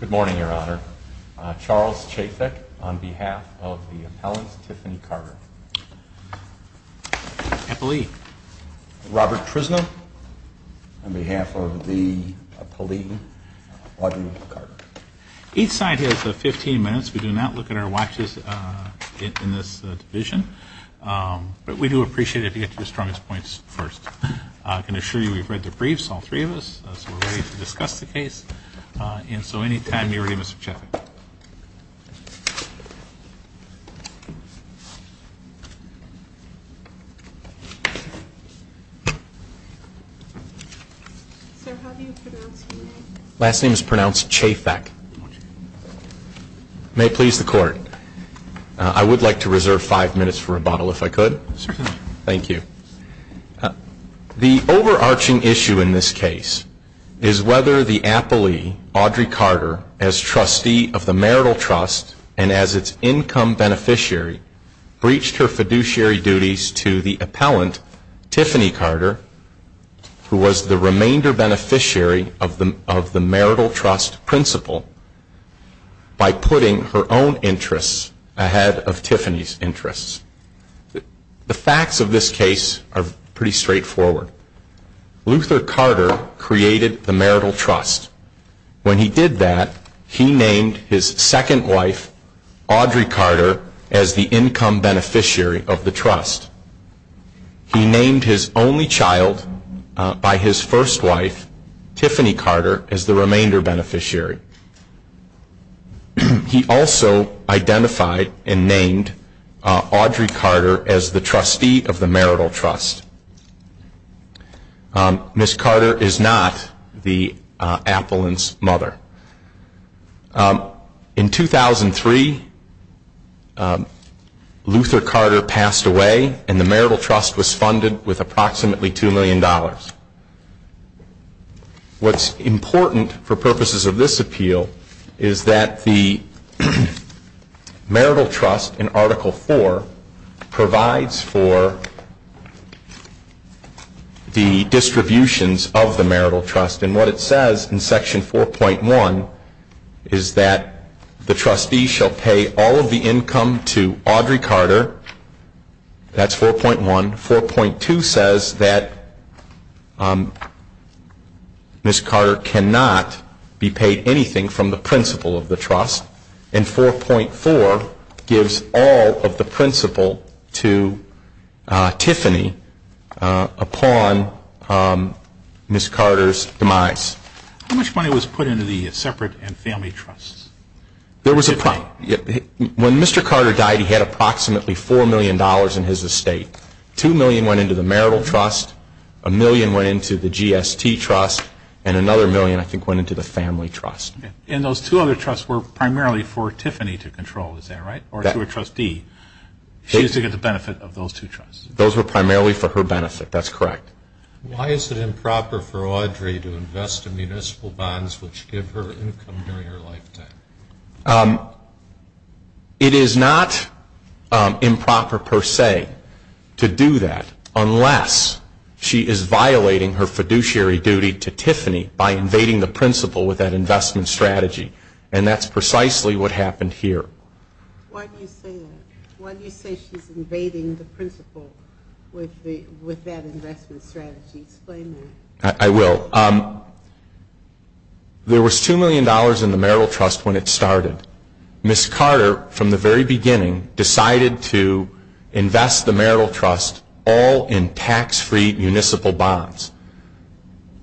Good morning, Your Honor. Charles Chafik on behalf of the appellant, Tiffany Carter. Robert Trisno on behalf of the appellant, Audrey Carter. Each side has 15 minutes. We do not look at our watches in this division, but we do appreciate it if you get to your strongest points first. I can assure you we've read the briefs, all three of us, so we're ready to discuss the case. And so anytime you're ready, Mr. Chafik. Sir, how do you pronounce your name? Last name is pronounced Chaifak. May it please the court, I would like to reserve five minutes for rebuttal if I could. Certainly. Thank you. The overarching issue in this case is whether the appellee, Audrey Carter, as trustee of the Marital Trust and as its income beneficiary, breached her fiduciary duties to the appellant, Tiffany Carter, who was the remainder beneficiary of the Marital Trust principle, by putting her own interests ahead of Tiffany's interests. The facts of this case are pretty straightforward. Luther Carter created the Marital Trust. When he did that, he named his second wife, Audrey Carter, as the income beneficiary of the trust. He named his only child by his first wife, Tiffany Carter, as the remainder beneficiary. He also identified and named Audrey Carter as the trustee of the Marital Trust. Ms. Carter is not the appellant's mother. In 2003, Luther Carter passed away, and the Marital Trust was funded with approximately $2 million. What's important for purposes of this appeal is that the Marital Trust, in Article 4, provides for the distributions of the Marital Trust. And what it says in Section 4.1 is that the trustee shall pay all of the income to Audrey Carter. That's 4.1. 4.2 says that Ms. Carter cannot be paid anything from the principal of the trust, and 4.4 gives all of the principal to Tiffany upon Ms. Carter's demise. How much money was put into the separate and family trusts? When Mr. Carter died, he had approximately $4 million in his estate. $2 million went into the Marital Trust, $1 million went into the GST Trust, and another $1 million, I think, went into the Family Trust. And those two other trusts were primarily for Tiffany to control, is that right, or to her trustee? She used to get the benefit of those two trusts. Those were primarily for her benefit. That's correct. Why is it improper for Audrey to invest in municipal bonds which give her income during her lifetime? It is not improper per se to do that unless she is violating her fiduciary duty to Tiffany by invading the principal with that investment strategy. And that's precisely what happened here. Why do you say that? Why do you say she's invading the principal with that investment strategy? Explain that. I will. There was $2 million in the Marital Trust when it started. Ms. Carter, from the very beginning, decided to invest the Marital Trust all in tax-free municipal bonds.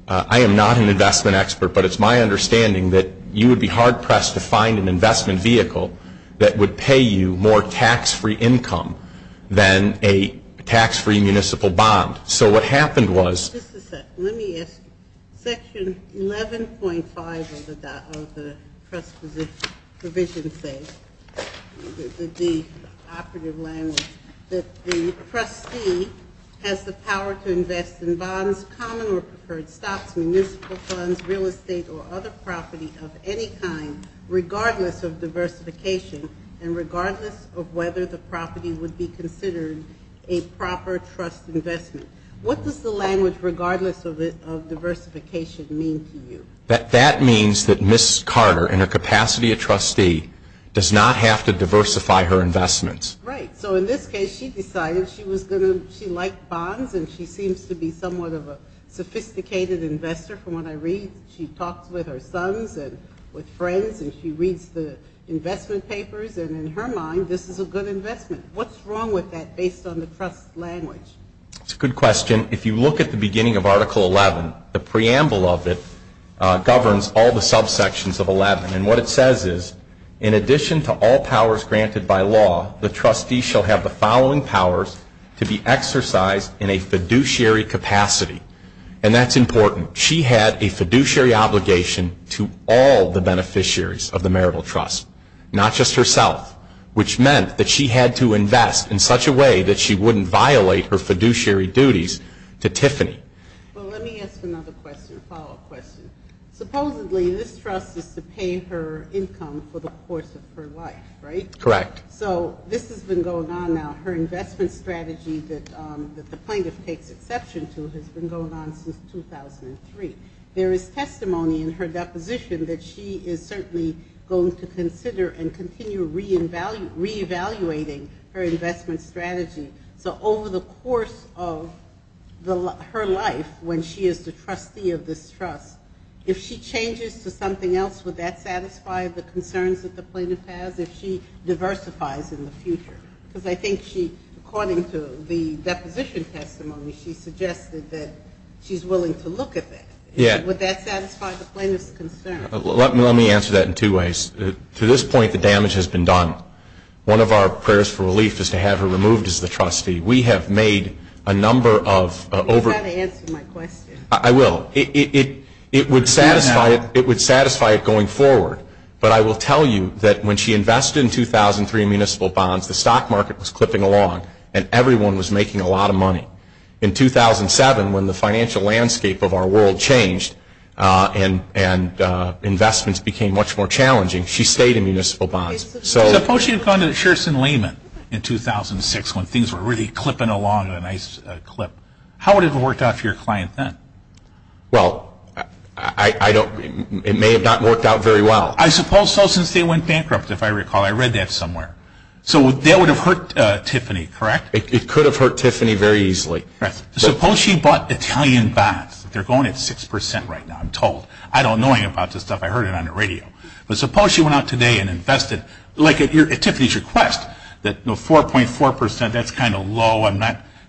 I am not an investment expert, but it's my understanding that you would be hard-pressed to find an investment vehicle that would pay you more tax-free income than a tax-free municipal bond. So what happened was ---- Just a second. Let me ask you. Section 11.5 of the trust provision says, the operative language, that the trustee has the power to invest in bonds, common or preferred stocks, municipal funds, real estate or other property of any kind regardless of diversification and regardless of whether the property would be considered a proper trust investment. What does the language regardless of diversification mean to you? That means that Ms. Carter, in her capacity of trustee, does not have to diversify her investments. Right. So in this case, she decided she was going to ---- she liked bonds and she seems to be somewhat of a sophisticated investor from what I read. She talks with her sons and with friends and she reads the investment papers and in her mind this is a good investment. What's wrong with that based on the trust language? That's a good question. If you look at the beginning of Article 11, the preamble of it governs all the subsections of 11. And what it says is, in addition to all powers granted by law, the trustee shall have the following powers to be exercised in a fiduciary capacity. And that's important. She had a fiduciary obligation to all the beneficiaries of the marital trust, not just herself, which meant that she had to invest in such a way that she wouldn't violate her fiduciary duties to Tiffany. Well, let me ask another question, a follow-up question. Supposedly this trust is to pay her income for the course of her life, right? Correct. So this has been going on now. Her investment strategy that the plaintiff takes exception to has been going on since 2003. There is testimony in her deposition that she is certainly going to consider and continue reevaluating her investment strategy. So over the course of her life, when she is the trustee of this trust, if she changes to something else, would that satisfy the concerns that the plaintiff has if she diversifies in the future? Because I think she, according to the deposition testimony, she suggested that she's willing to look at that. Would that satisfy the plaintiff's concern? Let me answer that in two ways. To this point, the damage has been done. One of our prayers for relief is to have her removed as the trustee. We have made a number of over- You've got to answer my question. I will. It would satisfy it going forward. But I will tell you that when she invested in 2003 in municipal bonds, the stock market was clipping along and everyone was making a lot of money. In 2007, when the financial landscape of our world changed and investments became much more challenging, she stayed in municipal bonds. Suppose you had gone to Sherrison-Lehman in 2006 when things were really clipping along in a nice clip. How would it have worked out for your client then? Well, it may have not worked out very well. I suppose so since they went bankrupt, if I recall. I read that somewhere. So that would have hurt Tiffany, correct? It could have hurt Tiffany very easily. Suppose she bought Italian bonds. They're going at 6% right now, I'm told. I don't know anything about this stuff. I heard it on the radio. But suppose she went out today and invested. Like at Tiffany's request, 4.4%, that's kind of low.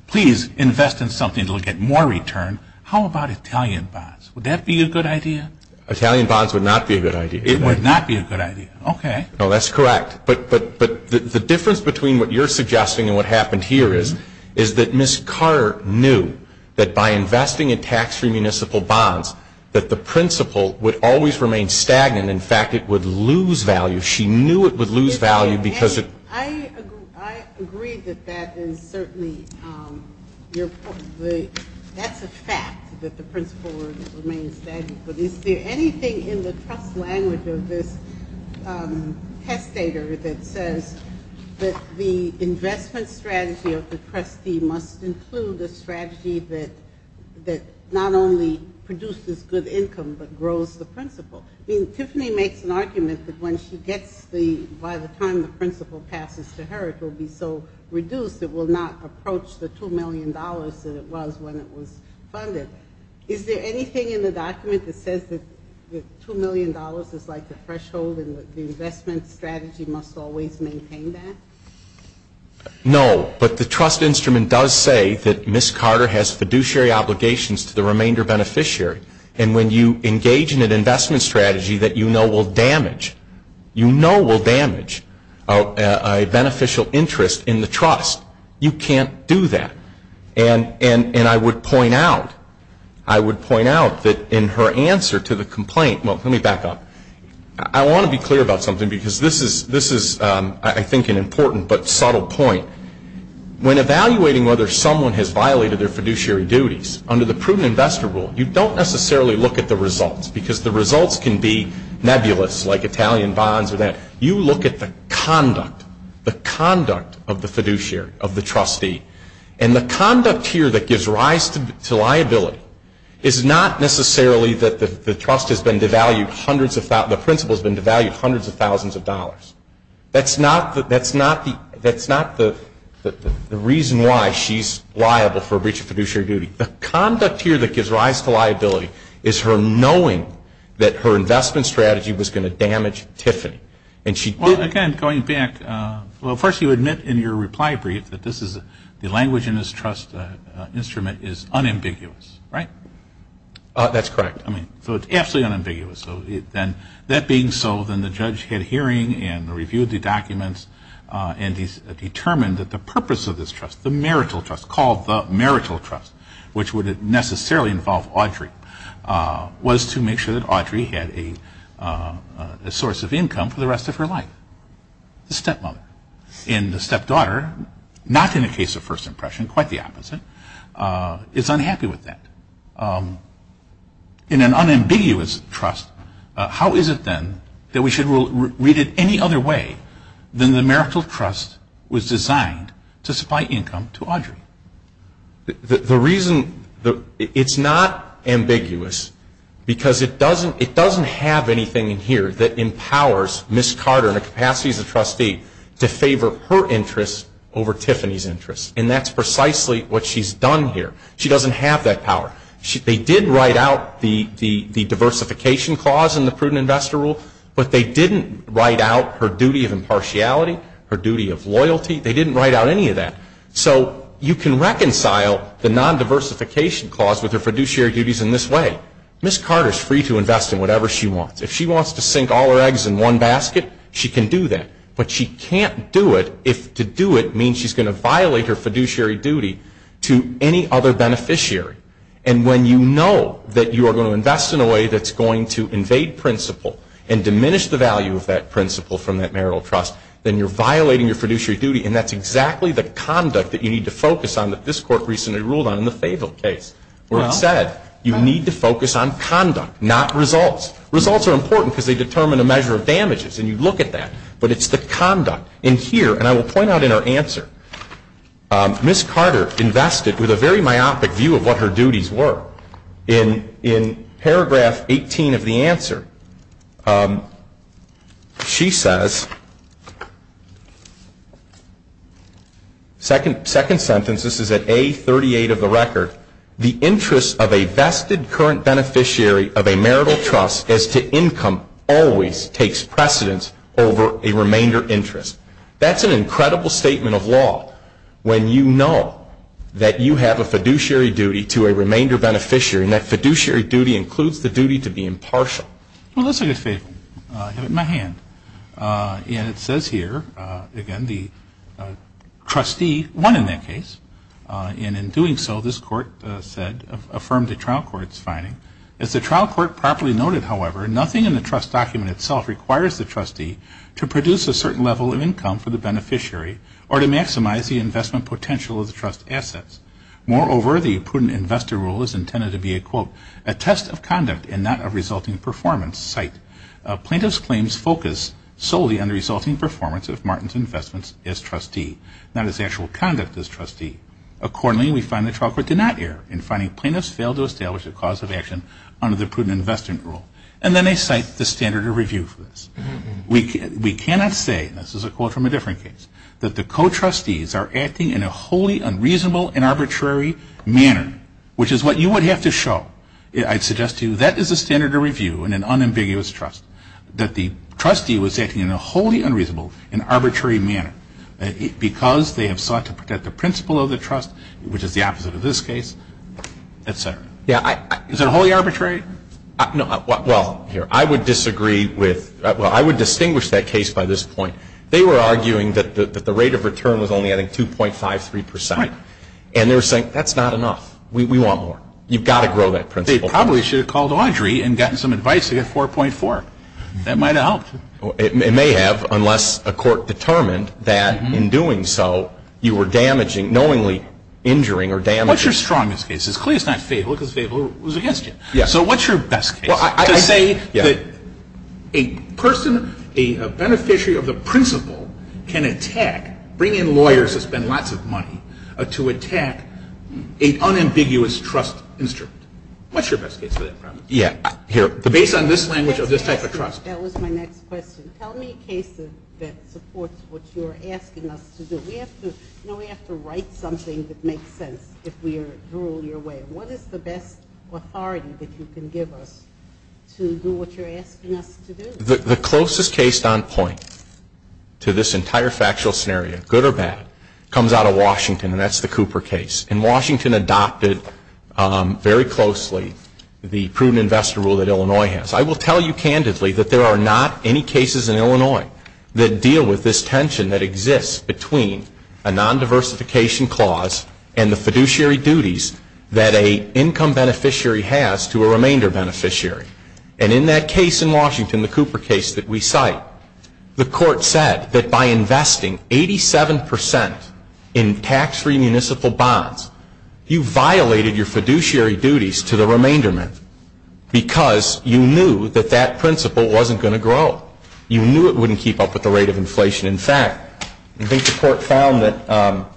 Please invest in something that will get more return. How about Italian bonds? Would that be a good idea? Italian bonds would not be a good idea. It would not be a good idea. Okay. No, that's correct. But the difference between what you're suggesting and what happened here is, is that Ms. Carr knew that by investing in tax-free municipal bonds, that the principal would always remain stagnant. In fact, it would lose value. She knew it would lose value because it – I agree that that is certainly your point. That's a fact, that the principal would remain stagnant. But is there anything in the trust language of this testator that says that the investment strategy of the trustee must include a strategy that not only produces good income but grows the principal? I mean, Tiffany makes an argument that when she gets the – by the time the principal passes to her, it will be so reduced, it will not approach the $2 million that it was when it was funded. Is there anything in the document that says that $2 million is like the threshold and the investment strategy must always maintain that? No, but the trust instrument does say that Ms. Carter has fiduciary obligations to the remainder beneficiary. And when you engage in an investment strategy that you know will damage, you know will damage a beneficial interest in the trust, you can't do that. And I would point out, I would point out that in her answer to the complaint – well, let me back up. I want to be clear about something because this is, I think, an important but subtle point. When evaluating whether someone has violated their fiduciary duties, under the prudent investor rule, you don't necessarily look at the results because the results can be nebulous like Italian bonds or that. You look at the conduct, the conduct of the fiduciary, of the trustee. And the conduct here that gives rise to liability is not necessarily that the trust has been devalued hundreds of – the principal has been devalued hundreds of thousands of dollars. That's not the reason why she's liable for a breach of fiduciary duty. The conduct here that gives rise to liability is her knowing that her investment strategy was going to damage Tiffany. And she did. Well, again, going back, well, first you admit in your reply brief that this is – the language in this trust instrument is unambiguous, right? That's correct. So it's absolutely unambiguous. That being so, then the judge had a hearing and reviewed the documents and determined that the purpose of this trust, the marital trust, called the marital trust, which would necessarily involve Audrey, was to make sure that Audrey had a source of income for the rest of her life, the stepmother. And the stepdaughter, not in the case of first impression, quite the opposite, is unhappy with that. In an unambiguous trust, how is it then that we should read it any other way than the marital trust was designed to supply income to Audrey? The reason – it's not ambiguous because it doesn't have anything in here that empowers Ms. Carter in her capacity as a trustee to favor her interests over Tiffany's interests. And that's precisely what she's done here. She doesn't have that power. They did write out the diversification clause in the prudent investor rule, but they didn't write out her duty of impartiality, her duty of loyalty. They didn't write out any of that. So you can reconcile the non-diversification clause with her fiduciary duties in this way. Ms. Carter is free to invest in whatever she wants. If she wants to sink all her eggs in one basket, she can do that. But she can't do it if to do it means she's going to violate her fiduciary duty to any other beneficiary. And when you know that you are going to invest in a way that's going to invade principle and diminish the value of that principle from that marital trust, then you're violating your fiduciary duty, and that's exactly the conduct that you need to focus on that this Court recently ruled on in the Fayville case where it said you need to focus on conduct, not results. Results are important because they determine a measure of damages, and you look at that, but it's the conduct. And here, and I will point out in her answer, Ms. Carter invested with a very myopic view of what her duties were. In paragraph 18 of the answer, she says, second sentence, this is at A38 of the record, the interest of a vested current beneficiary of a marital trust as to income always takes precedence over a remainder interest. That's an incredible statement of law when you know that you have a fiduciary duty to a remainder beneficiary, and that fiduciary duty includes the duty to be impartial. Well, let's look at Fayville. I have it in my hand. And it says here, again, the trustee won in that case, and in doing so this Court said, affirmed the trial court's finding. As the trial court properly noted, however, nothing in the trust document itself requires the trustee to produce a certain level of income for the beneficiary or to maximize the investment potential of the trust assets. Moreover, the prudent investor rule is intended to be a, quote, a test of conduct and not a resulting performance site. Plaintiffs' claims focus solely on the resulting performance of Martin's investments as trustee, not his actual conduct as trustee. Accordingly, we find the trial court did not err in finding plaintiffs failed to establish a cause of action under the prudent investor rule, and then they cite the standard of review for this. We cannot say, and this is a quote from a different case, that the co-trustees are acting in a wholly unreasonable and arbitrary manner, which is what you would have to show. I'd suggest to you that is a standard of review in an unambiguous trust, that the trustee was acting in a wholly unreasonable and arbitrary manner, because they have sought to protect the principle of the trust, which is the opposite of this case, et cetera. Is it wholly arbitrary? No. Well, I would disagree with, well, I would distinguish that case by this point. They were arguing that the rate of return was only, I think, 2.53 percent. Right. And they were saying, that's not enough. We want more. You've got to grow that principle. They probably should have called Audrey and gotten some advice to get 4.4. That might have helped. It may have, unless a court determined that in doing so you were damaging, knowingly injuring or damaging. What's your strongest case? It's clear it's not Fable because Fable was against it. Yes. So what's your best case? Well, I say that a person, a beneficiary of the principle can attack, bring in lawyers who spend lots of money to attack an unambiguous trust instrument. What's your best case for that? Yeah, here. Based on this language of this type of trust. That was my next question. Tell me a case that supports what you're asking us to do. We have to write something that makes sense if we are to rule your way. What is the best authority that you can give us to do what you're asking us to do? The closest case on point to this entire factual scenario, good or bad, comes out of Washington, and that's the Cooper case. And Washington adopted very closely the prudent investor rule that Illinois has. I will tell you candidly that there are not any cases in Illinois that deal with this tension that exists between a nondiversification clause and the fiduciary duties that an income beneficiary has to a remainder beneficiary. And in that case in Washington, the Cooper case that we cite, the court said that by investing 87% in tax-free municipal bonds, you violated your fiduciary duties to the remainder men because you knew that that principle wasn't going to grow. You knew it wouldn't keep up with the rate of inflation. In fact, I think the court found that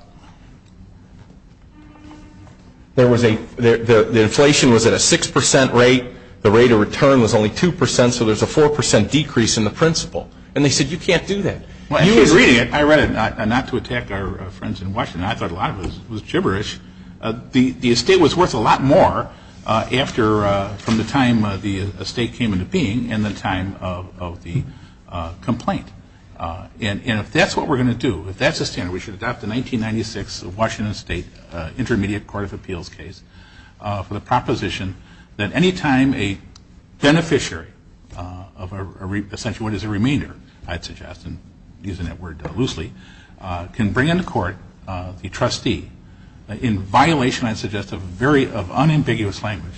the inflation was at a 6% rate, the rate of return was only 2%, so there's a 4% decrease in the principle. And they said you can't do that. You were reading it. I read it not to attack our friends in Washington. I thought a lot of it was gibberish. The estate was worth a lot more from the time the estate came into being and the time of the complaint. And if that's what we're going to do, if that's the standard, we should adopt the 1996 Washington State Intermediate Court of Appeals case for the proposition that any time a beneficiary of essentially what is a remainder, I'd suggest, and using that word loosely, can bring into court the trustee in violation, I'd suggest, of unambiguous language.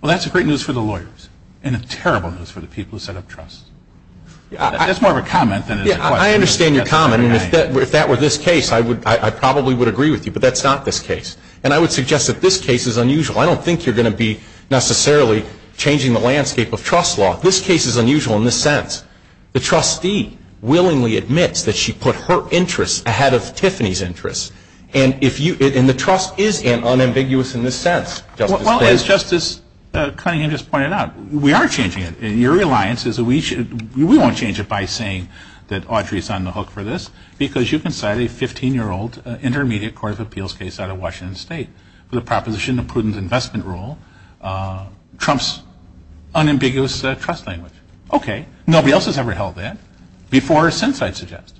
Well, that's great news for the lawyers and a terrible news for the people who set up trusts. That's more of a comment than a question. I understand your comment. And if that were this case, I probably would agree with you. But that's not this case. And I would suggest that this case is unusual. I don't think you're going to be necessarily changing the landscape of trust law. This case is unusual in this sense. The trustee willingly admits that she put her interests ahead of Tiffany's interests. And the trust is unambiguous in this sense. Well, as Justice Cunningham just pointed out, we are changing it. And your reliance is that we won't change it by saying that Audrey is on the hook for this because you can cite a 15-year-old Intermediate Court of Appeals case out of Washington State for the proposition of prudent investment rule, Trump's unambiguous trust language. Okay. Nobody else has ever held that before or since, I'd suggest.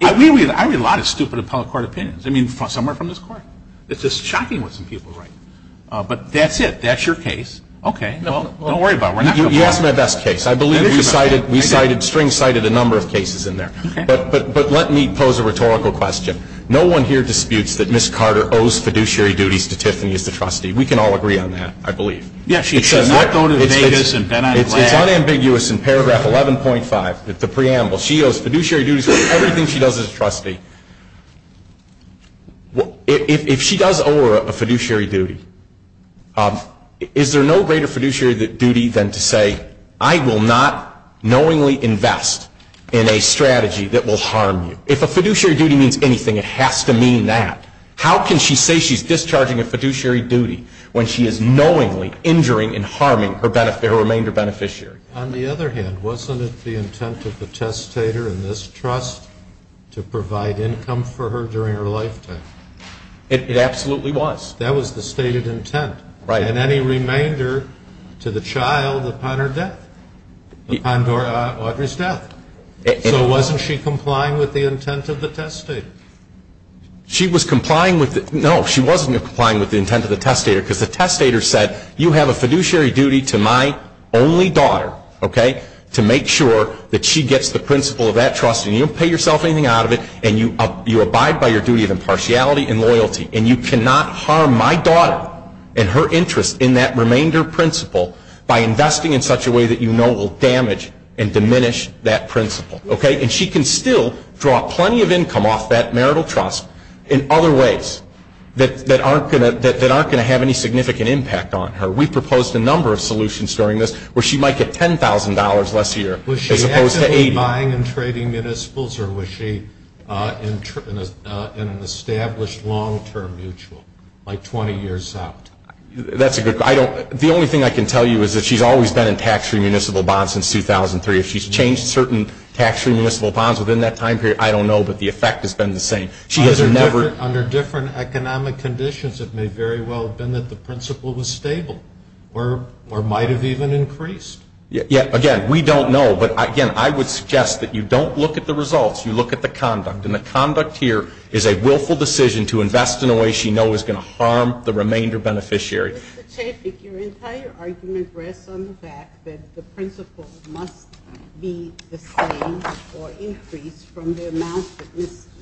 I read a lot of stupid appellate court opinions, I mean, somewhere from this court. It's just shocking what some people write. But that's it. That's your case. Okay. Well, don't worry about it. You asked my best case. I believe you cited, we cited, String cited a number of cases in there. Okay. But let me pose a rhetorical question. No one here disputes that Ms. Carter owes fiduciary duties to Tiffany as the trustee. We can all agree on that, I believe. Yes, she does not go to Vegas and bet on glass. It's unambiguous in paragraph 11.5 of the preamble. She owes fiduciary duties to everything she does as a trustee. If she does owe her a fiduciary duty, is there no greater fiduciary duty than to say, I will not knowingly invest in a strategy that will harm you? If a fiduciary duty means anything, it has to mean that. How can she say she's discharging a fiduciary duty when she is knowingly injuring and harming her remainder beneficiary? On the other hand, wasn't it the intent of the testator in this trust to provide income for her during her lifetime? It absolutely was. That was the stated intent. Right. And any remainder to the child upon her death, upon Audrey's death. So wasn't she complying with the intent of the testator? She was complying with the – no, she wasn't complying with the intent of the testator because the testator said, you have a fiduciary duty to my only daughter, okay, to make sure that she gets the principle of that trust and you don't pay yourself anything out of it and you abide by your duty of impartiality and loyalty and you cannot harm my daughter and her interest in that remainder principle by investing in such a way that you know will damage and diminish that principle, okay? And she can still draw plenty of income off that marital trust in other ways that aren't going to have any significant impact on her. We proposed a number of solutions during this where she might get $10,000 less a year as opposed to 80. Was she buying and trading municipals or was she in an established long-term mutual like 20 years out? That's a good question. The only thing I can tell you is that she's always been in tax-free municipal bonds since 2003. If she's changed certain tax-free municipal bonds within that time period, I don't know, but the effect has been the same. Under different economic conditions, it may very well have been that the principle was stable or might have even increased. Again, we don't know. But, again, I would suggest that you don't look at the results. You look at the conduct. And the conduct here is a willful decision to invest in a way she knows is going to harm the remainder beneficiary. Mr. Chaffik, your entire argument rests on the fact that the principle must be the same or increased from the amount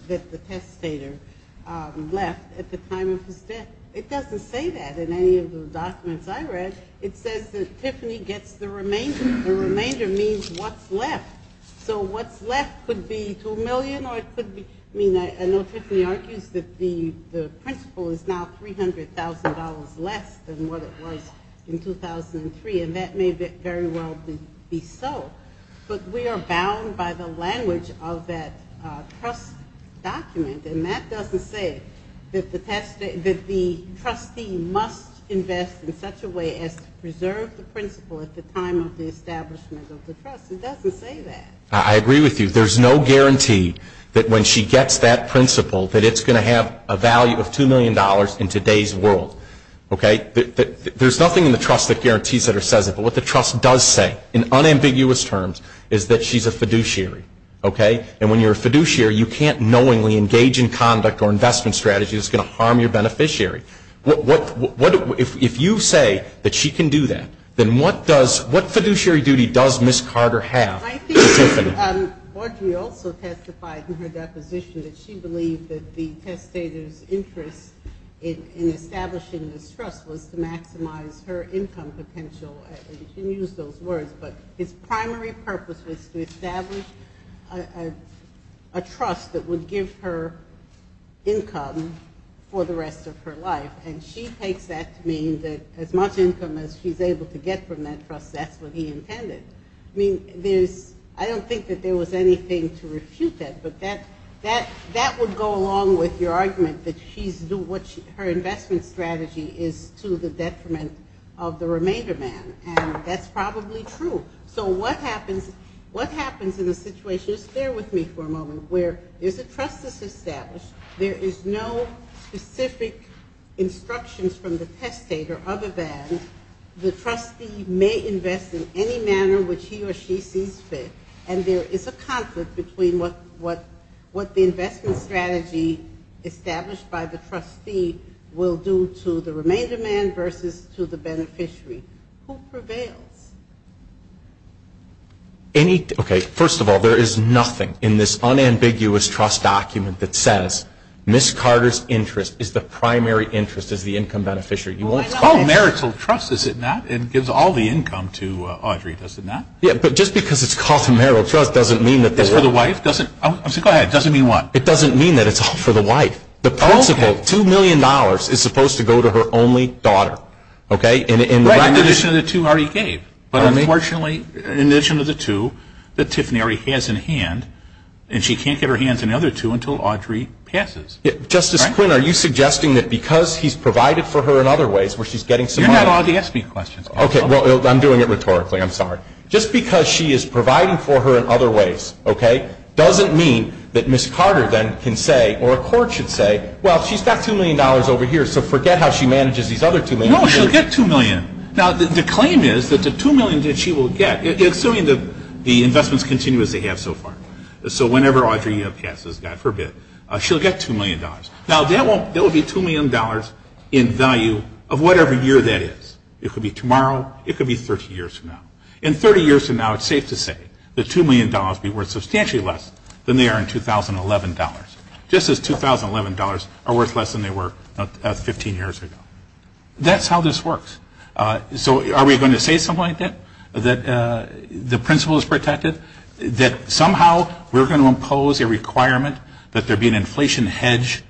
that the testator left at the time of his death. It doesn't say that in any of the documents I read. It says that Tiffany gets the remainder. The remainder means what's left. So what's left could be $2 million. I know Tiffany argues that the principle is now $300,000 less than what it was in 2003. And that may very well be so. But we are bound by the language of that trust document. And that doesn't say that the trustee must invest in such a way as to preserve the principle at the time of the establishment of the trust. It doesn't say that. I agree with you. There's no guarantee that when she gets that principle, that it's going to have a value of $2 million in today's world. Okay? There's nothing in the trust that guarantees that or says it. But what the trust does say in unambiguous terms is that she's a fiduciary. Okay? And when you're a fiduciary, you can't knowingly engage in conduct or investment strategy that's going to harm your beneficiary. If you say that she can do that, then what does ‑‑ what fiduciary duty does Ms. Carter have with Tiffany? Audrey also testified in her deposition that she believed that the testator's interest in establishing this trust was to maximize her income potential. You can use those words. But his primary purpose was to establish a trust that would give her income for the rest of her life. And she takes that to mean that as much income as she's able to get from that trust, that's what he intended. I mean, I don't think that there was anything to refute that. But that would go along with your argument that her investment strategy is to the detriment of the remainder man. And that's probably true. So what happens in a situation, just bear with me for a moment, where there's a trust that's established. There is no specific instructions from the testator other than the trustee may invest in any manner which he or she sees fit. And there is a conflict between what the investment strategy established by the trustee will do to the remainder man versus to the beneficiary. Who prevails? Okay, first of all, there is nothing in this unambiguous trust document that says Ms. Carter's interest is the primary interest as the income beneficiary. It's called marital trust, is it not? It gives all the income to Audrey, does it not? Yeah, but just because it's called marital trust doesn't mean that the wife doesn't. Go ahead. It doesn't mean what? It doesn't mean that it's all for the wife. The principal, $2 million, is supposed to go to her only daughter. Right, in addition to the two Audrey gave. But unfortunately, in addition to the two that Tiffany already has in hand, and she can't get her hands on the other two until Audrey passes. Justice Quinn, are you suggesting that because he's provided for her in other ways, where she's getting some money. You're not allowed to ask me questions. Okay, well, I'm doing it rhetorically. I'm sorry. Just because she is providing for her in other ways doesn't mean that Ms. Carter then can say or a court should say, well, she's got $2 million over here, so forget how she manages these other $2 million. No, she'll get $2 million. Now, the claim is that the $2 million that she will get, assuming that the investments continue as they have so far, so whenever Audrey passes, God forbid, she'll get $2 million. Now, that will be $2 million in value of whatever year that is. It could be tomorrow. It could be 30 years from now. And 30 years from now, it's safe to say, that $2 million would be worth substantially less than they are in 2011 dollars, just as 2011 dollars are worth less than they were 15 years ago. That's how this works. So are we going to say something like that, that the principle is protected, that somehow we're going to impose a requirement that there be an inflation hedge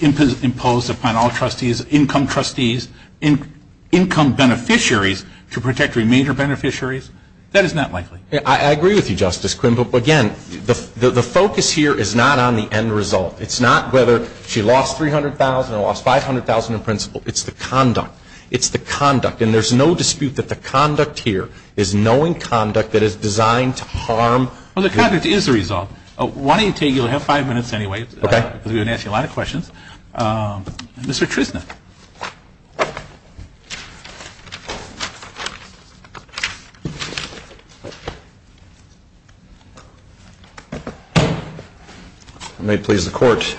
imposed upon all trustees, income trustees, income beneficiaries to protect the remainder beneficiaries? That is not likely. I agree with you, Justice Quinn. But, again, the focus here is not on the end result. It's not whether she lost $300,000 or lost $500,000 in principle. It's the conduct. It's the conduct. And there's no dispute that the conduct here is knowing conduct that is designed to harm. Well, the conduct is the result. Why don't you take your five minutes anyway, because we've been asking a lot of questions. Mr. Trisna. May it please the Court.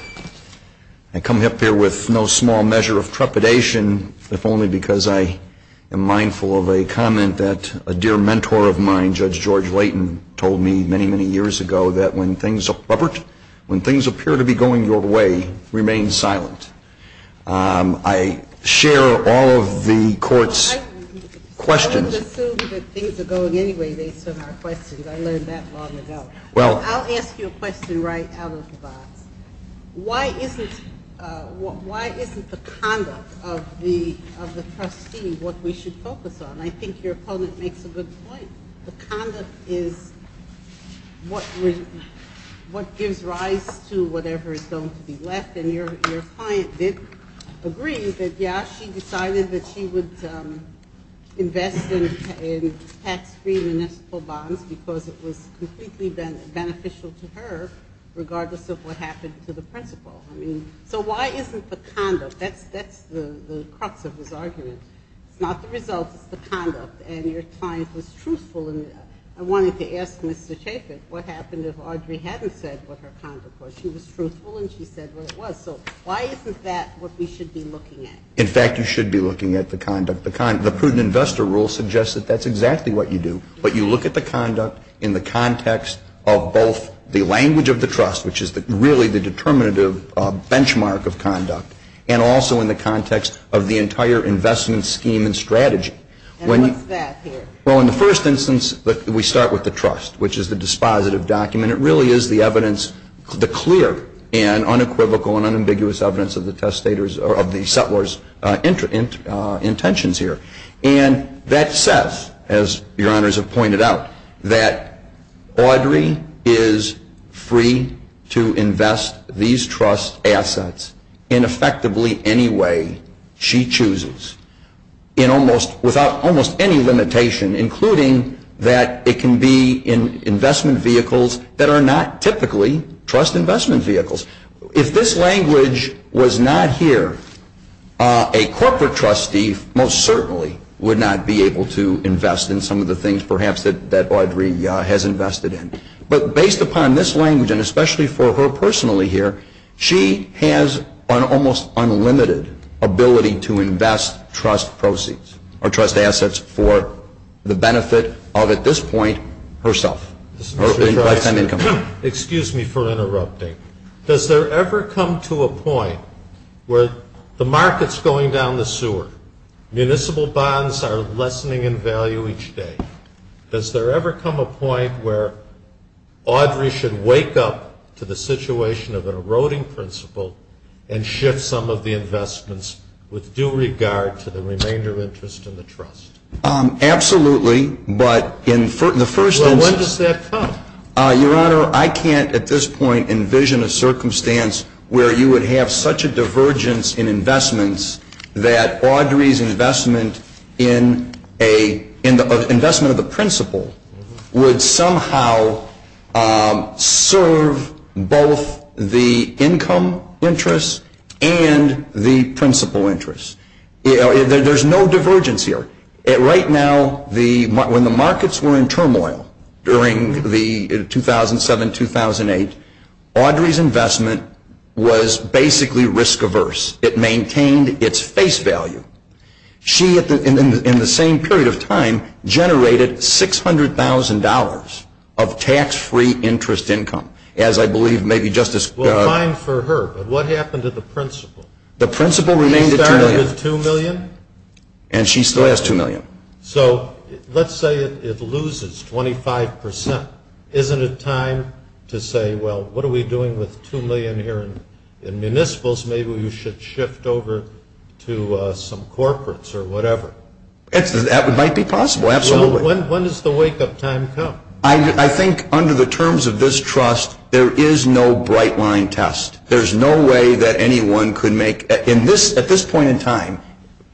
I come up here with no small measure of trepidation, if only because I am mindful of a comment that a dear mentor of mine, Judge George Layton, told me many, many years ago that when things appear to be going your way, remain silent. I share all of the Court's questions. I wouldn't assume that things are going anyway based on our questions. I learned that long ago. I'll ask you a question right out of the box. Why isn't the conduct of the trustee what we should focus on? I think your opponent makes a good point. The conduct is what gives rise to whatever is going to be left. And your client did agree that, yeah, she decided that she would invest in tax-free municipal bonds because it was completely beneficial to her, regardless of what happened to the principal. So why isn't the conduct? That's the crux of his argument. It's not the result. It's the conduct. And your client was truthful. I wanted to ask Mr. Chapin what happened if Audrey hadn't said what her conduct was. She was truthful and she said what it was. So why isn't that what we should be looking at? In fact, you should be looking at the conduct. The prudent investor rule suggests that that's exactly what you do. But you look at the conduct in the context of both the language of the trust, which is really the determinative benchmark of conduct, and also in the context of the entire investment scheme and strategy. And what's that here? Well, in the first instance, we start with the trust, which is the dispositive document. It really is the evidence, the clear and unequivocal and unambiguous evidence of the settler's intentions here. And that says, as your honors have pointed out, that Audrey is free to invest these trust assets in effectively any way she chooses without almost any limitation, including that it can be in investment vehicles that are not typically trust investment vehicles. If this language was not here, a corporate trustee most certainly would not be able to invest in some of the things perhaps that Audrey has invested in. But based upon this language, and especially for her personally here, she has an almost unlimited ability to invest trust proceeds or trust assets for the benefit of, at this point, herself, her lifetime income. Excuse me for interrupting. Does there ever come to a point where the market's going down the sewer, municipal bonds are lessening in value each day? Does there ever come a point where Audrey should wake up to the situation of an eroding principle and shift some of the investments with due regard to the remainder of interest in the trust? Absolutely. But in the first instance. Well, when does that come? Your Honor, I can't at this point envision a circumstance where you would have such a divergence in investments that Audrey's investment of the principle would somehow serve both the income interest and the principle interest. There's no divergence here. Right now, when the markets were in turmoil during the 2007-2008, Audrey's investment was basically risk averse. It maintained its face value. She, in the same period of time, generated $600,000 of tax-free interest income. As I believe maybe Justice — Well, fine for her. But what happened to the principle? The principle remained at $2 million. She started with $2 million? And she still has $2 million. So let's say it loses 25%. Isn't it time to say, well, what are we doing with $2 million here in municipals? Maybe we should shift over to some corporates or whatever. That might be possible, absolutely. When does the wake-up time come? I think under the terms of this trust, there is no bright-line test. There's no way that anyone could make — at this point in time,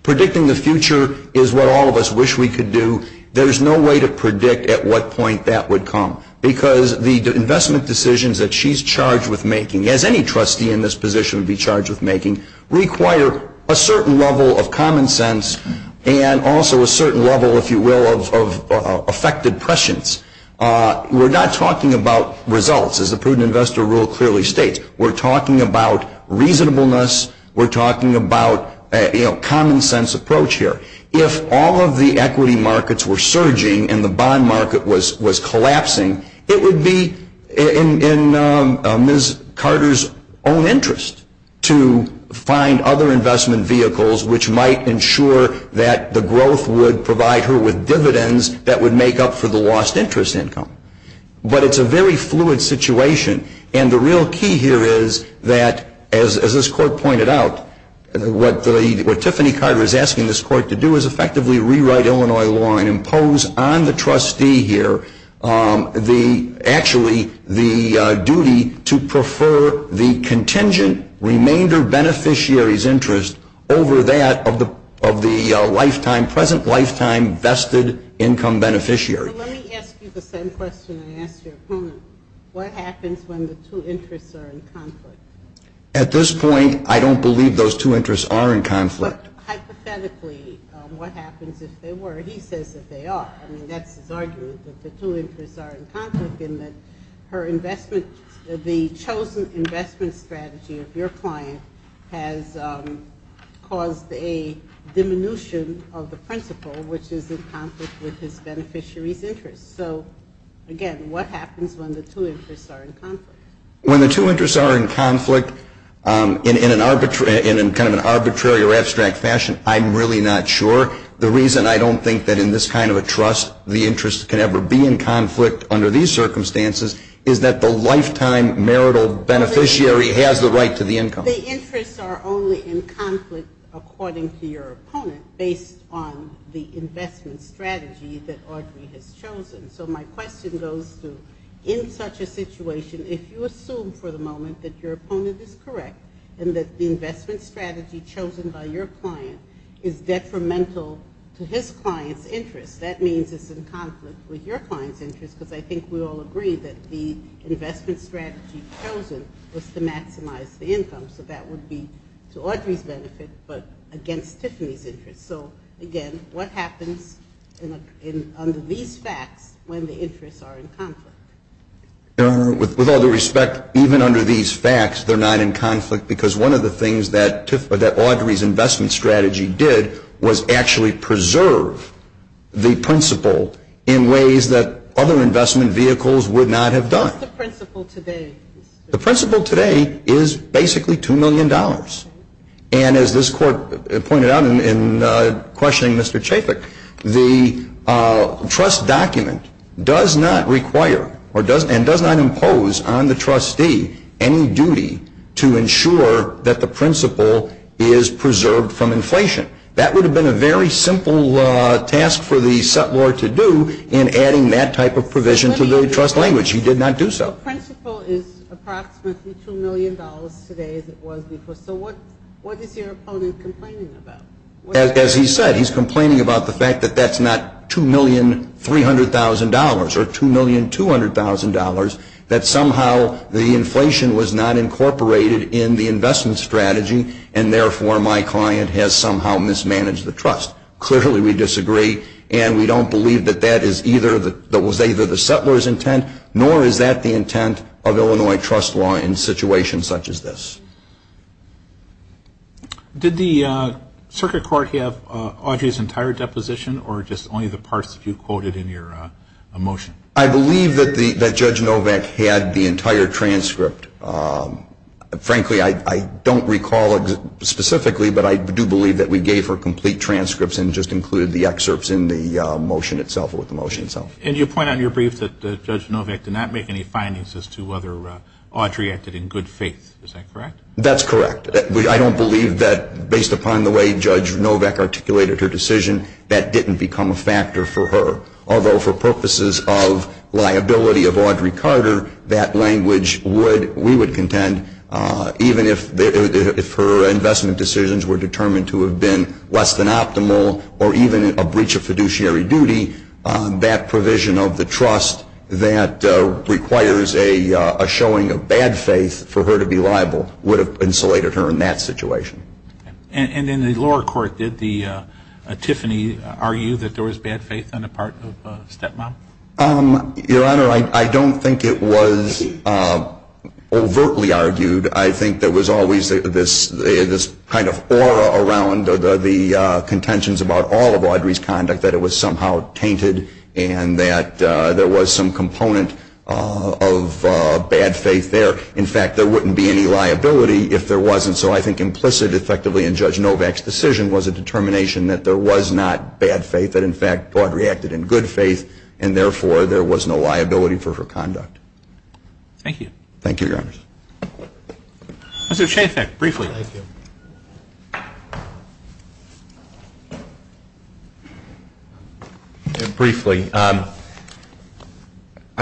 predicting the future is what all of us wish we could do. There's no way to predict at what point that would come. Because the investment decisions that she's charged with making, as any trustee in this position would be charged with making, require a certain level of common sense and also a certain level, if you will, of affected prescience. We're not talking about results, as the prudent investor rule clearly states. We're talking about reasonableness. We're talking about a common-sense approach here. If all of the equity markets were surging and the bond market was collapsing, it would be in Ms. Carter's own interest to find other investment vehicles, which might ensure that the growth would provide her with dividends that would make up for the lost interest income. But it's a very fluid situation. And the real key here is that, as this Court pointed out, what Tiffany Carter is asking this Court to do is effectively rewrite Illinois law and impose on the trustee here actually the duty to prefer the contingent remainder beneficiary's interest over that of the present lifetime vested income beneficiary. So let me ask you the same question I asked your opponent. What happens when the two interests are in conflict? At this point, I don't believe those two interests are in conflict. But hypothetically, what happens if they were? He says that they are. I mean, that's his argument, that the two interests are in conflict and that the chosen investment strategy of your client has caused a diminution of the principle, which is in conflict with his beneficiary's interest. So, again, what happens when the two interests are in conflict? When the two interests are in conflict in kind of an arbitrary or abstract fashion, I'm really not sure. The reason I don't think that in this kind of a trust the interest can ever be in conflict under these circumstances is that the lifetime marital beneficiary has the right to the income. The interests are only in conflict according to your opponent based on the investment strategy that Audrey has chosen. So my question goes to in such a situation, if you assume for the moment that your opponent is correct and that the investment strategy chosen by your client is detrimental to his client's interest, that means it's in conflict with your client's interest because I think we all agree that the investment strategy chosen was to maximize the income. So that would be to Audrey's benefit but against Tiffany's interest. So, again, what happens under these facts when the interests are in conflict? Your Honor, with all due respect, even under these facts they're not in conflict because one of the things that Audrey's investment strategy did was actually preserve the principle in ways that other investment vehicles would not have done. What's the principle today? The principle today is basically $2 million. And as this Court pointed out in questioning Mr. Chaffik, the trust document does not require and does not impose on the trustee any duty to ensure that the principle is preserved from inflation. That would have been a very simple task for the settlor to do in adding that type of provision to the trust language. He did not do so. The principle is approximately $2 million today as it was before. So what is your opponent complaining about? As he said, he's complaining about the fact that that's not $2,300,000 or $2,200,000, that somehow the inflation was not incorporated in the investment strategy and therefore my client has somehow mismanaged the trust. Clearly we disagree and we don't believe that that was either the settlor's intent nor is that the intent of Illinois trust law in situations such as this. Did the circuit court have Audrey's entire deposition or just only the parts that you quoted in your motion? I believe that Judge Novak had the entire transcript. Frankly, I don't recall it specifically, but I do believe that we gave her complete transcripts and just included the excerpts in the motion itself or with the motion itself. And you point out in your brief that Judge Novak did not make any findings as to whether Audrey acted in good faith. Is that correct? That's correct. I don't believe that based upon the way Judge Novak articulated her decision, that didn't become a factor for her. Although for purposes of liability of Audrey Carter, that language we would contend, even if her investment decisions were determined to have been less than optimal or even a breach of fiduciary duty, that provision of the trust that requires a showing of bad faith for her to be liable would have insulated her in that situation. And in the lower court, did Tiffany argue that there was bad faith on the part of Stepmom? Your Honor, I don't think it was overtly argued. I think there was always this kind of aura around the contentions about all of Audrey's conduct that it was somehow tainted and that there was some component of bad faith there. In fact, there wouldn't be any liability if there wasn't. So I think implicit, effectively, in Judge Novak's decision was a determination that there was not bad faith, that, in fact, Audrey acted in good faith, and, therefore, there was no liability for her conduct. Thank you. Thank you, Your Honor. Mr. Shainfeld, briefly. Thank you. Briefly, I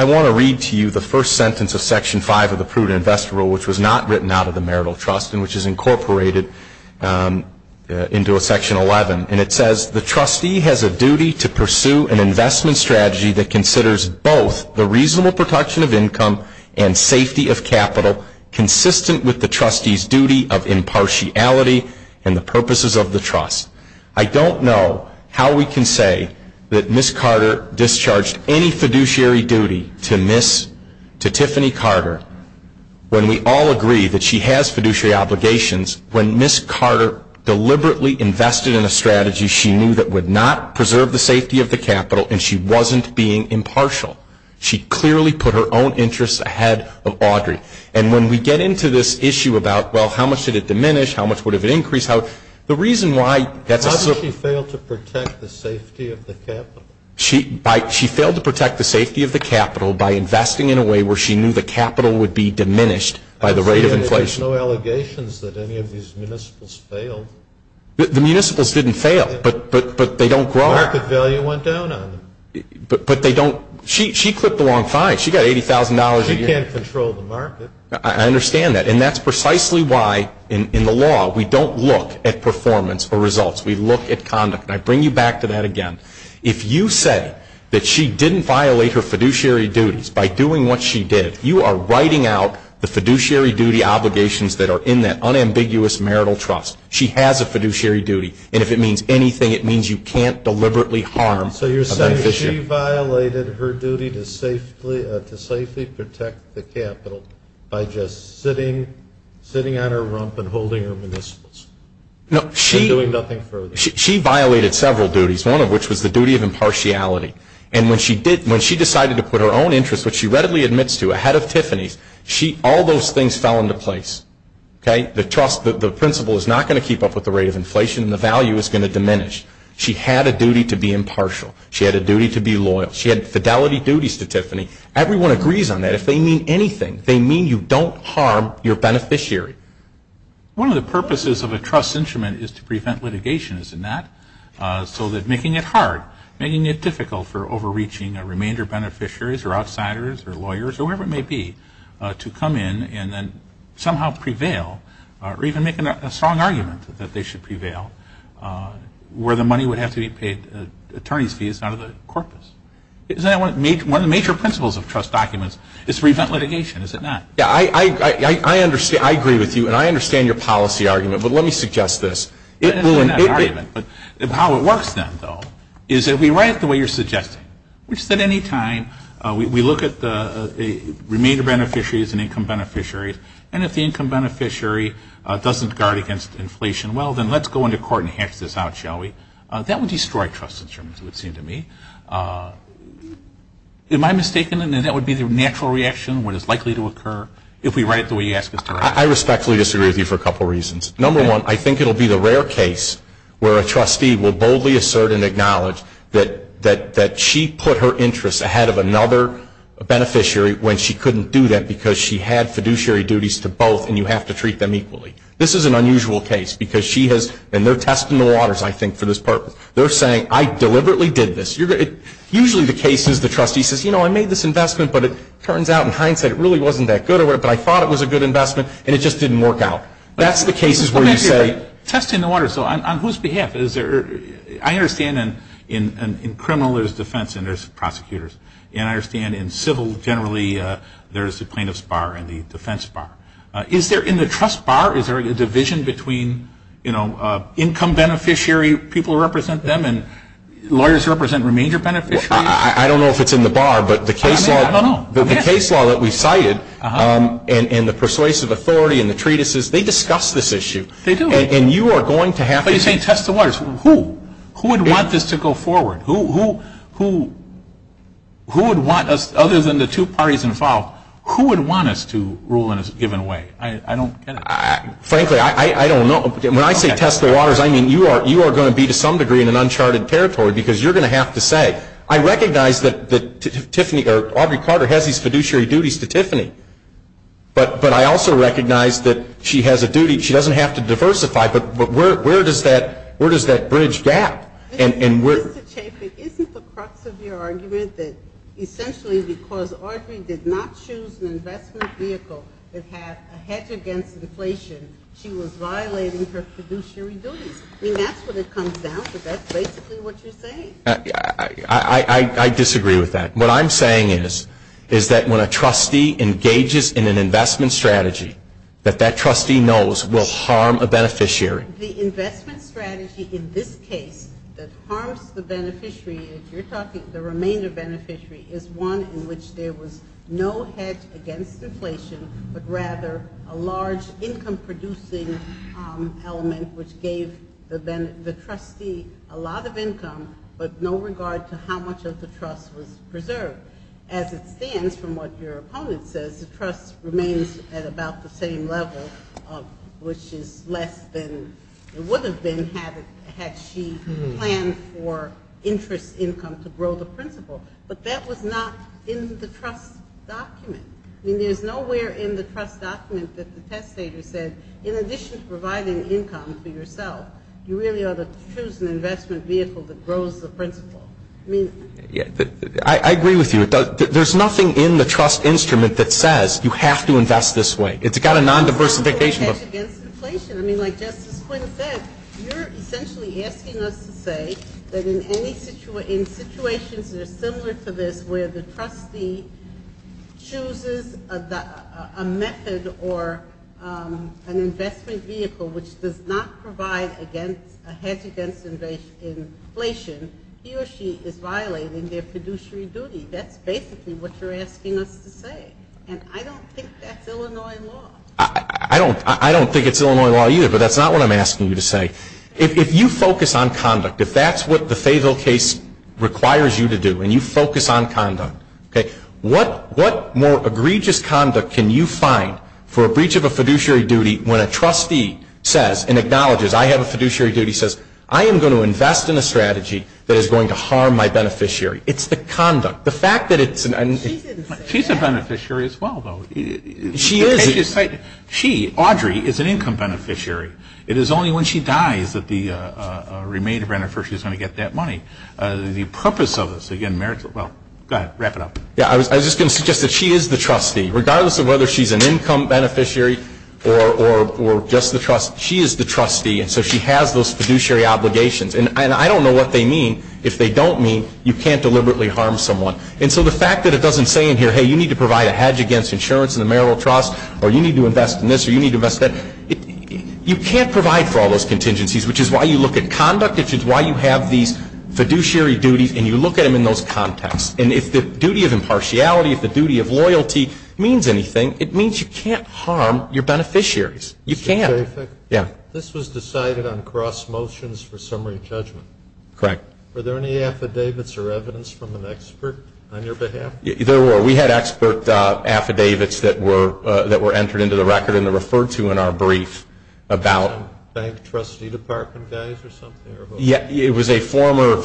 want to read to you the first sentence of Section 5 of the Prudent Investment Rule, which was not written out of the Marital Trust and which is incorporated into Section 11. And it says, The trustee has a duty to pursue an investment strategy that considers both the reasonable protection of income and safety of capital consistent with the trustee's duty of impartiality and the purposes of the trust. I don't know how we can say that Ms. Carter discharged any fiduciary duty to Tiffany Carter when we all agree that she has fiduciary obligations when Ms. Carter deliberately invested in a strategy she knew that would not preserve the safety of the capital and she wasn't being impartial. She clearly put her own interests ahead of Audrey. And when we get into this issue about, well, how much did it diminish? How much would it have increased? The reason why that's a How did she fail to protect the safety of the capital? She failed to protect the safety of the capital by investing in a way where she knew the capital would be diminished by the rate of inflation. There's no allegations that any of these municipals failed. The municipals didn't fail, but they don't grow. Market value went down on them. But they don't She clipped the wrong fine. She got $80,000 a year. She can't control the market. I understand that. And that's precisely why, in the law, we don't look at performance or results. We look at conduct. And I bring you back to that again. If you say that she didn't violate her fiduciary duties by doing what she did, you are writing out the fiduciary duty obligations that are in that unambiguous marital trust. She has a fiduciary duty. And if it means anything, it means you can't deliberately harm a beneficiary. So you're saying she violated her duty to safely protect the capital by just sitting on her rump and holding her municipals. No, she And doing nothing further. She violated several duties, one of which was the duty of impartiality. And when she decided to put her own interests, which she readily admits to, ahead of Tiffany's, all those things fell into place. Okay? The trust, the principle is not going to keep up with the rate of inflation and the value is going to diminish. She had a duty to be impartial. She had a duty to be loyal. She had fidelity duties to Tiffany. Everyone agrees on that. If they mean anything, they mean you don't harm your beneficiary. One of the purposes of a trust instrument is to prevent litigation, isn't that? So that making it hard, making it difficult for overreaching a remainder of beneficiaries or outsiders or lawyers, whoever it may be, to come in and then somehow prevail, or even make a strong argument that they should prevail, where the money would have to be paid attorney's fees out of the corpus. Isn't that one of the major principles of trust documents? It's prevent litigation, is it not? Yeah, I agree with you, and I understand your policy argument, but let me suggest this. How it works then, though, is if we write it the way you're suggesting, which is that any time we look at the remainder beneficiaries and income beneficiaries, and if the income beneficiary doesn't guard against inflation, well, then let's go into court and hatch this out, shall we? That would destroy trust instruments, it would seem to me. Am I mistaken in that that would be the natural reaction, what is likely to occur, if we write it the way you ask us to write it? I respectfully disagree with you for a couple reasons. Number one, I think it will be the rare case where a trustee will boldly assert and acknowledge that she put her interests ahead of another beneficiary when she couldn't do that because she had fiduciary duties to both, and you have to treat them equally. This is an unusual case because she has, and they're testing the waters, I think, for this purpose. They're saying, I deliberately did this. Usually the case is the trustee says, you know, I made this investment, but it turns out in hindsight it really wasn't that good, but I thought it was a good investment, and it just didn't work out. That's the cases where you say. Testing the waters, so on whose behalf? I understand in criminal there's defense and there's prosecutors, and I understand in civil generally there's the plaintiff's bar and the defense bar. Is there in the trust bar, is there a division between, you know, income beneficiary people represent them and lawyers represent remainder beneficiary? I don't know if it's in the bar, but the case law that we cited and the persuasive authority and the treatises, they discuss this issue. They do. And you are going to have to say. But you're saying test the waters. Who? Who would want this to go forward? Who would want us, other than the two parties involved, who would want us to rule in a given way? I don't get it. Frankly, I don't know. When I say test the waters, I mean you are going to be to some degree in an uncharted territory because you're going to have to say. I recognize that Tiffany or Aubrey Carter has these fiduciary duties to Tiffany, but I also recognize that she has a duty. She doesn't have to diversify, but where does that bridge gap? Mr. Chaffetz, isn't the crux of your argument that essentially because Aubrey did not choose an investment vehicle that had a hedge against deflation, she was violating her fiduciary duties? I mean, that's what it comes down to. That's basically what you're saying. I disagree with that. What I'm saying is that when a trustee engages in an investment strategy, that that trustee knows will harm a beneficiary. The investment strategy in this case that harms the beneficiary, if you're talking the remainder beneficiary, is one in which there was no hedge against deflation, but rather a large income-producing element which gave the trustee a lot of income, but no regard to how much of the trust was preserved. As it stands, from what your opponent says, the trust remains at about the same level, which is less than it would have been had she planned for interest income to grow the principal. But that was not in the trust document. I mean, there's nowhere in the trust document that the testator said, in addition to providing income for yourself, you really ought to choose an investment vehicle that grows the principal. I agree with you. There's nothing in the trust instrument that says you have to invest this way. It's got a non-diversification. I mean, like Justice Quinn said, you're essentially asking us to say that in situations that are similar to this, where the trustee chooses a method or an investment vehicle which does not provide a hedge against inflation, he or she is violating their fiduciary duty. That's basically what you're asking us to say, and I don't think that's Illinois law. I don't think it's Illinois law either, but that's not what I'm asking you to say. If you focus on conduct, if that's what the Fayetteville case requires you to do and you focus on conduct, okay, what more egregious conduct can you find for a breach of a fiduciary duty when a trustee says and acknowledges, I have a fiduciary duty, says, I am going to invest in a strategy that is going to harm my beneficiary. It's the conduct. The fact that it's an end. She's a beneficiary as well, though. She is. She, Audrey, is an income beneficiary. It is only when she dies that the remainder beneficiary is going to get that money. The purpose of this, again, merits, well, go ahead. Wrap it up. Yeah, I was just going to suggest that she is the trustee. Regardless of whether she's an income beneficiary or just the trustee, she is the trustee, and so she has those fiduciary obligations. And I don't know what they mean. If they don't mean, you can't deliberately harm someone. And so the fact that it doesn't say in here, hey, you need to provide a hedge against insurance in the marital trust or you need to invest in this or you need to invest in that, you can't provide for all those contingencies, which is why you look at conduct, which is why you have these fiduciary duties, and you look at them in those contexts. And if the duty of impartiality, if the duty of loyalty means anything, it means you can't harm your beneficiaries. You can't. Yeah. This was decided on cross motions for summary judgment. Correct. Were there any affidavits or evidence from an expert on your behalf? There were. We had expert affidavits that were entered into the record and referred to in our brief about bank trustee department values or something? Yeah. It was a former,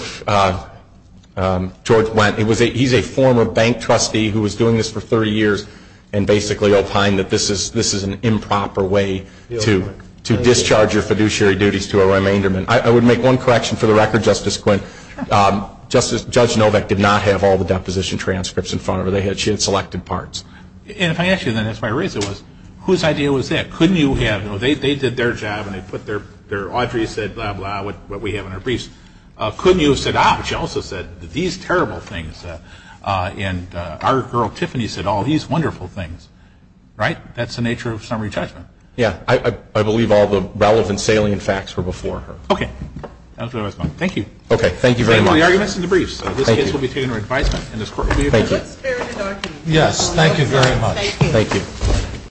George Wendt, he's a former bank trustee who was doing this for 30 years and basically opined that this is an improper way to discharge your fiduciary duties to a remainder. I would make one correction for the record, Justice Quinn. Judge Novak did not have all the deposition transcripts in front of her. She had selected parts. And if I ask you then, that's my reason was, whose idea was that? Couldn't you have, you know, they did their job and they put their, Audrey said blah, blah, what we have in our briefs. Couldn't you have said, ah, but she also said these terrible things. And our girl Tiffany said all these wonderful things. Right? That's the nature of summary judgment. Yeah. I believe all the relevant salient facts were before her. Okay. That was my response. Thank you. Okay. Thank you very much. Same with the arguments in the briefs. Thank you. This case will be taken to advisement and this court will be adjourned. Thank you. Yes. Thank you very much.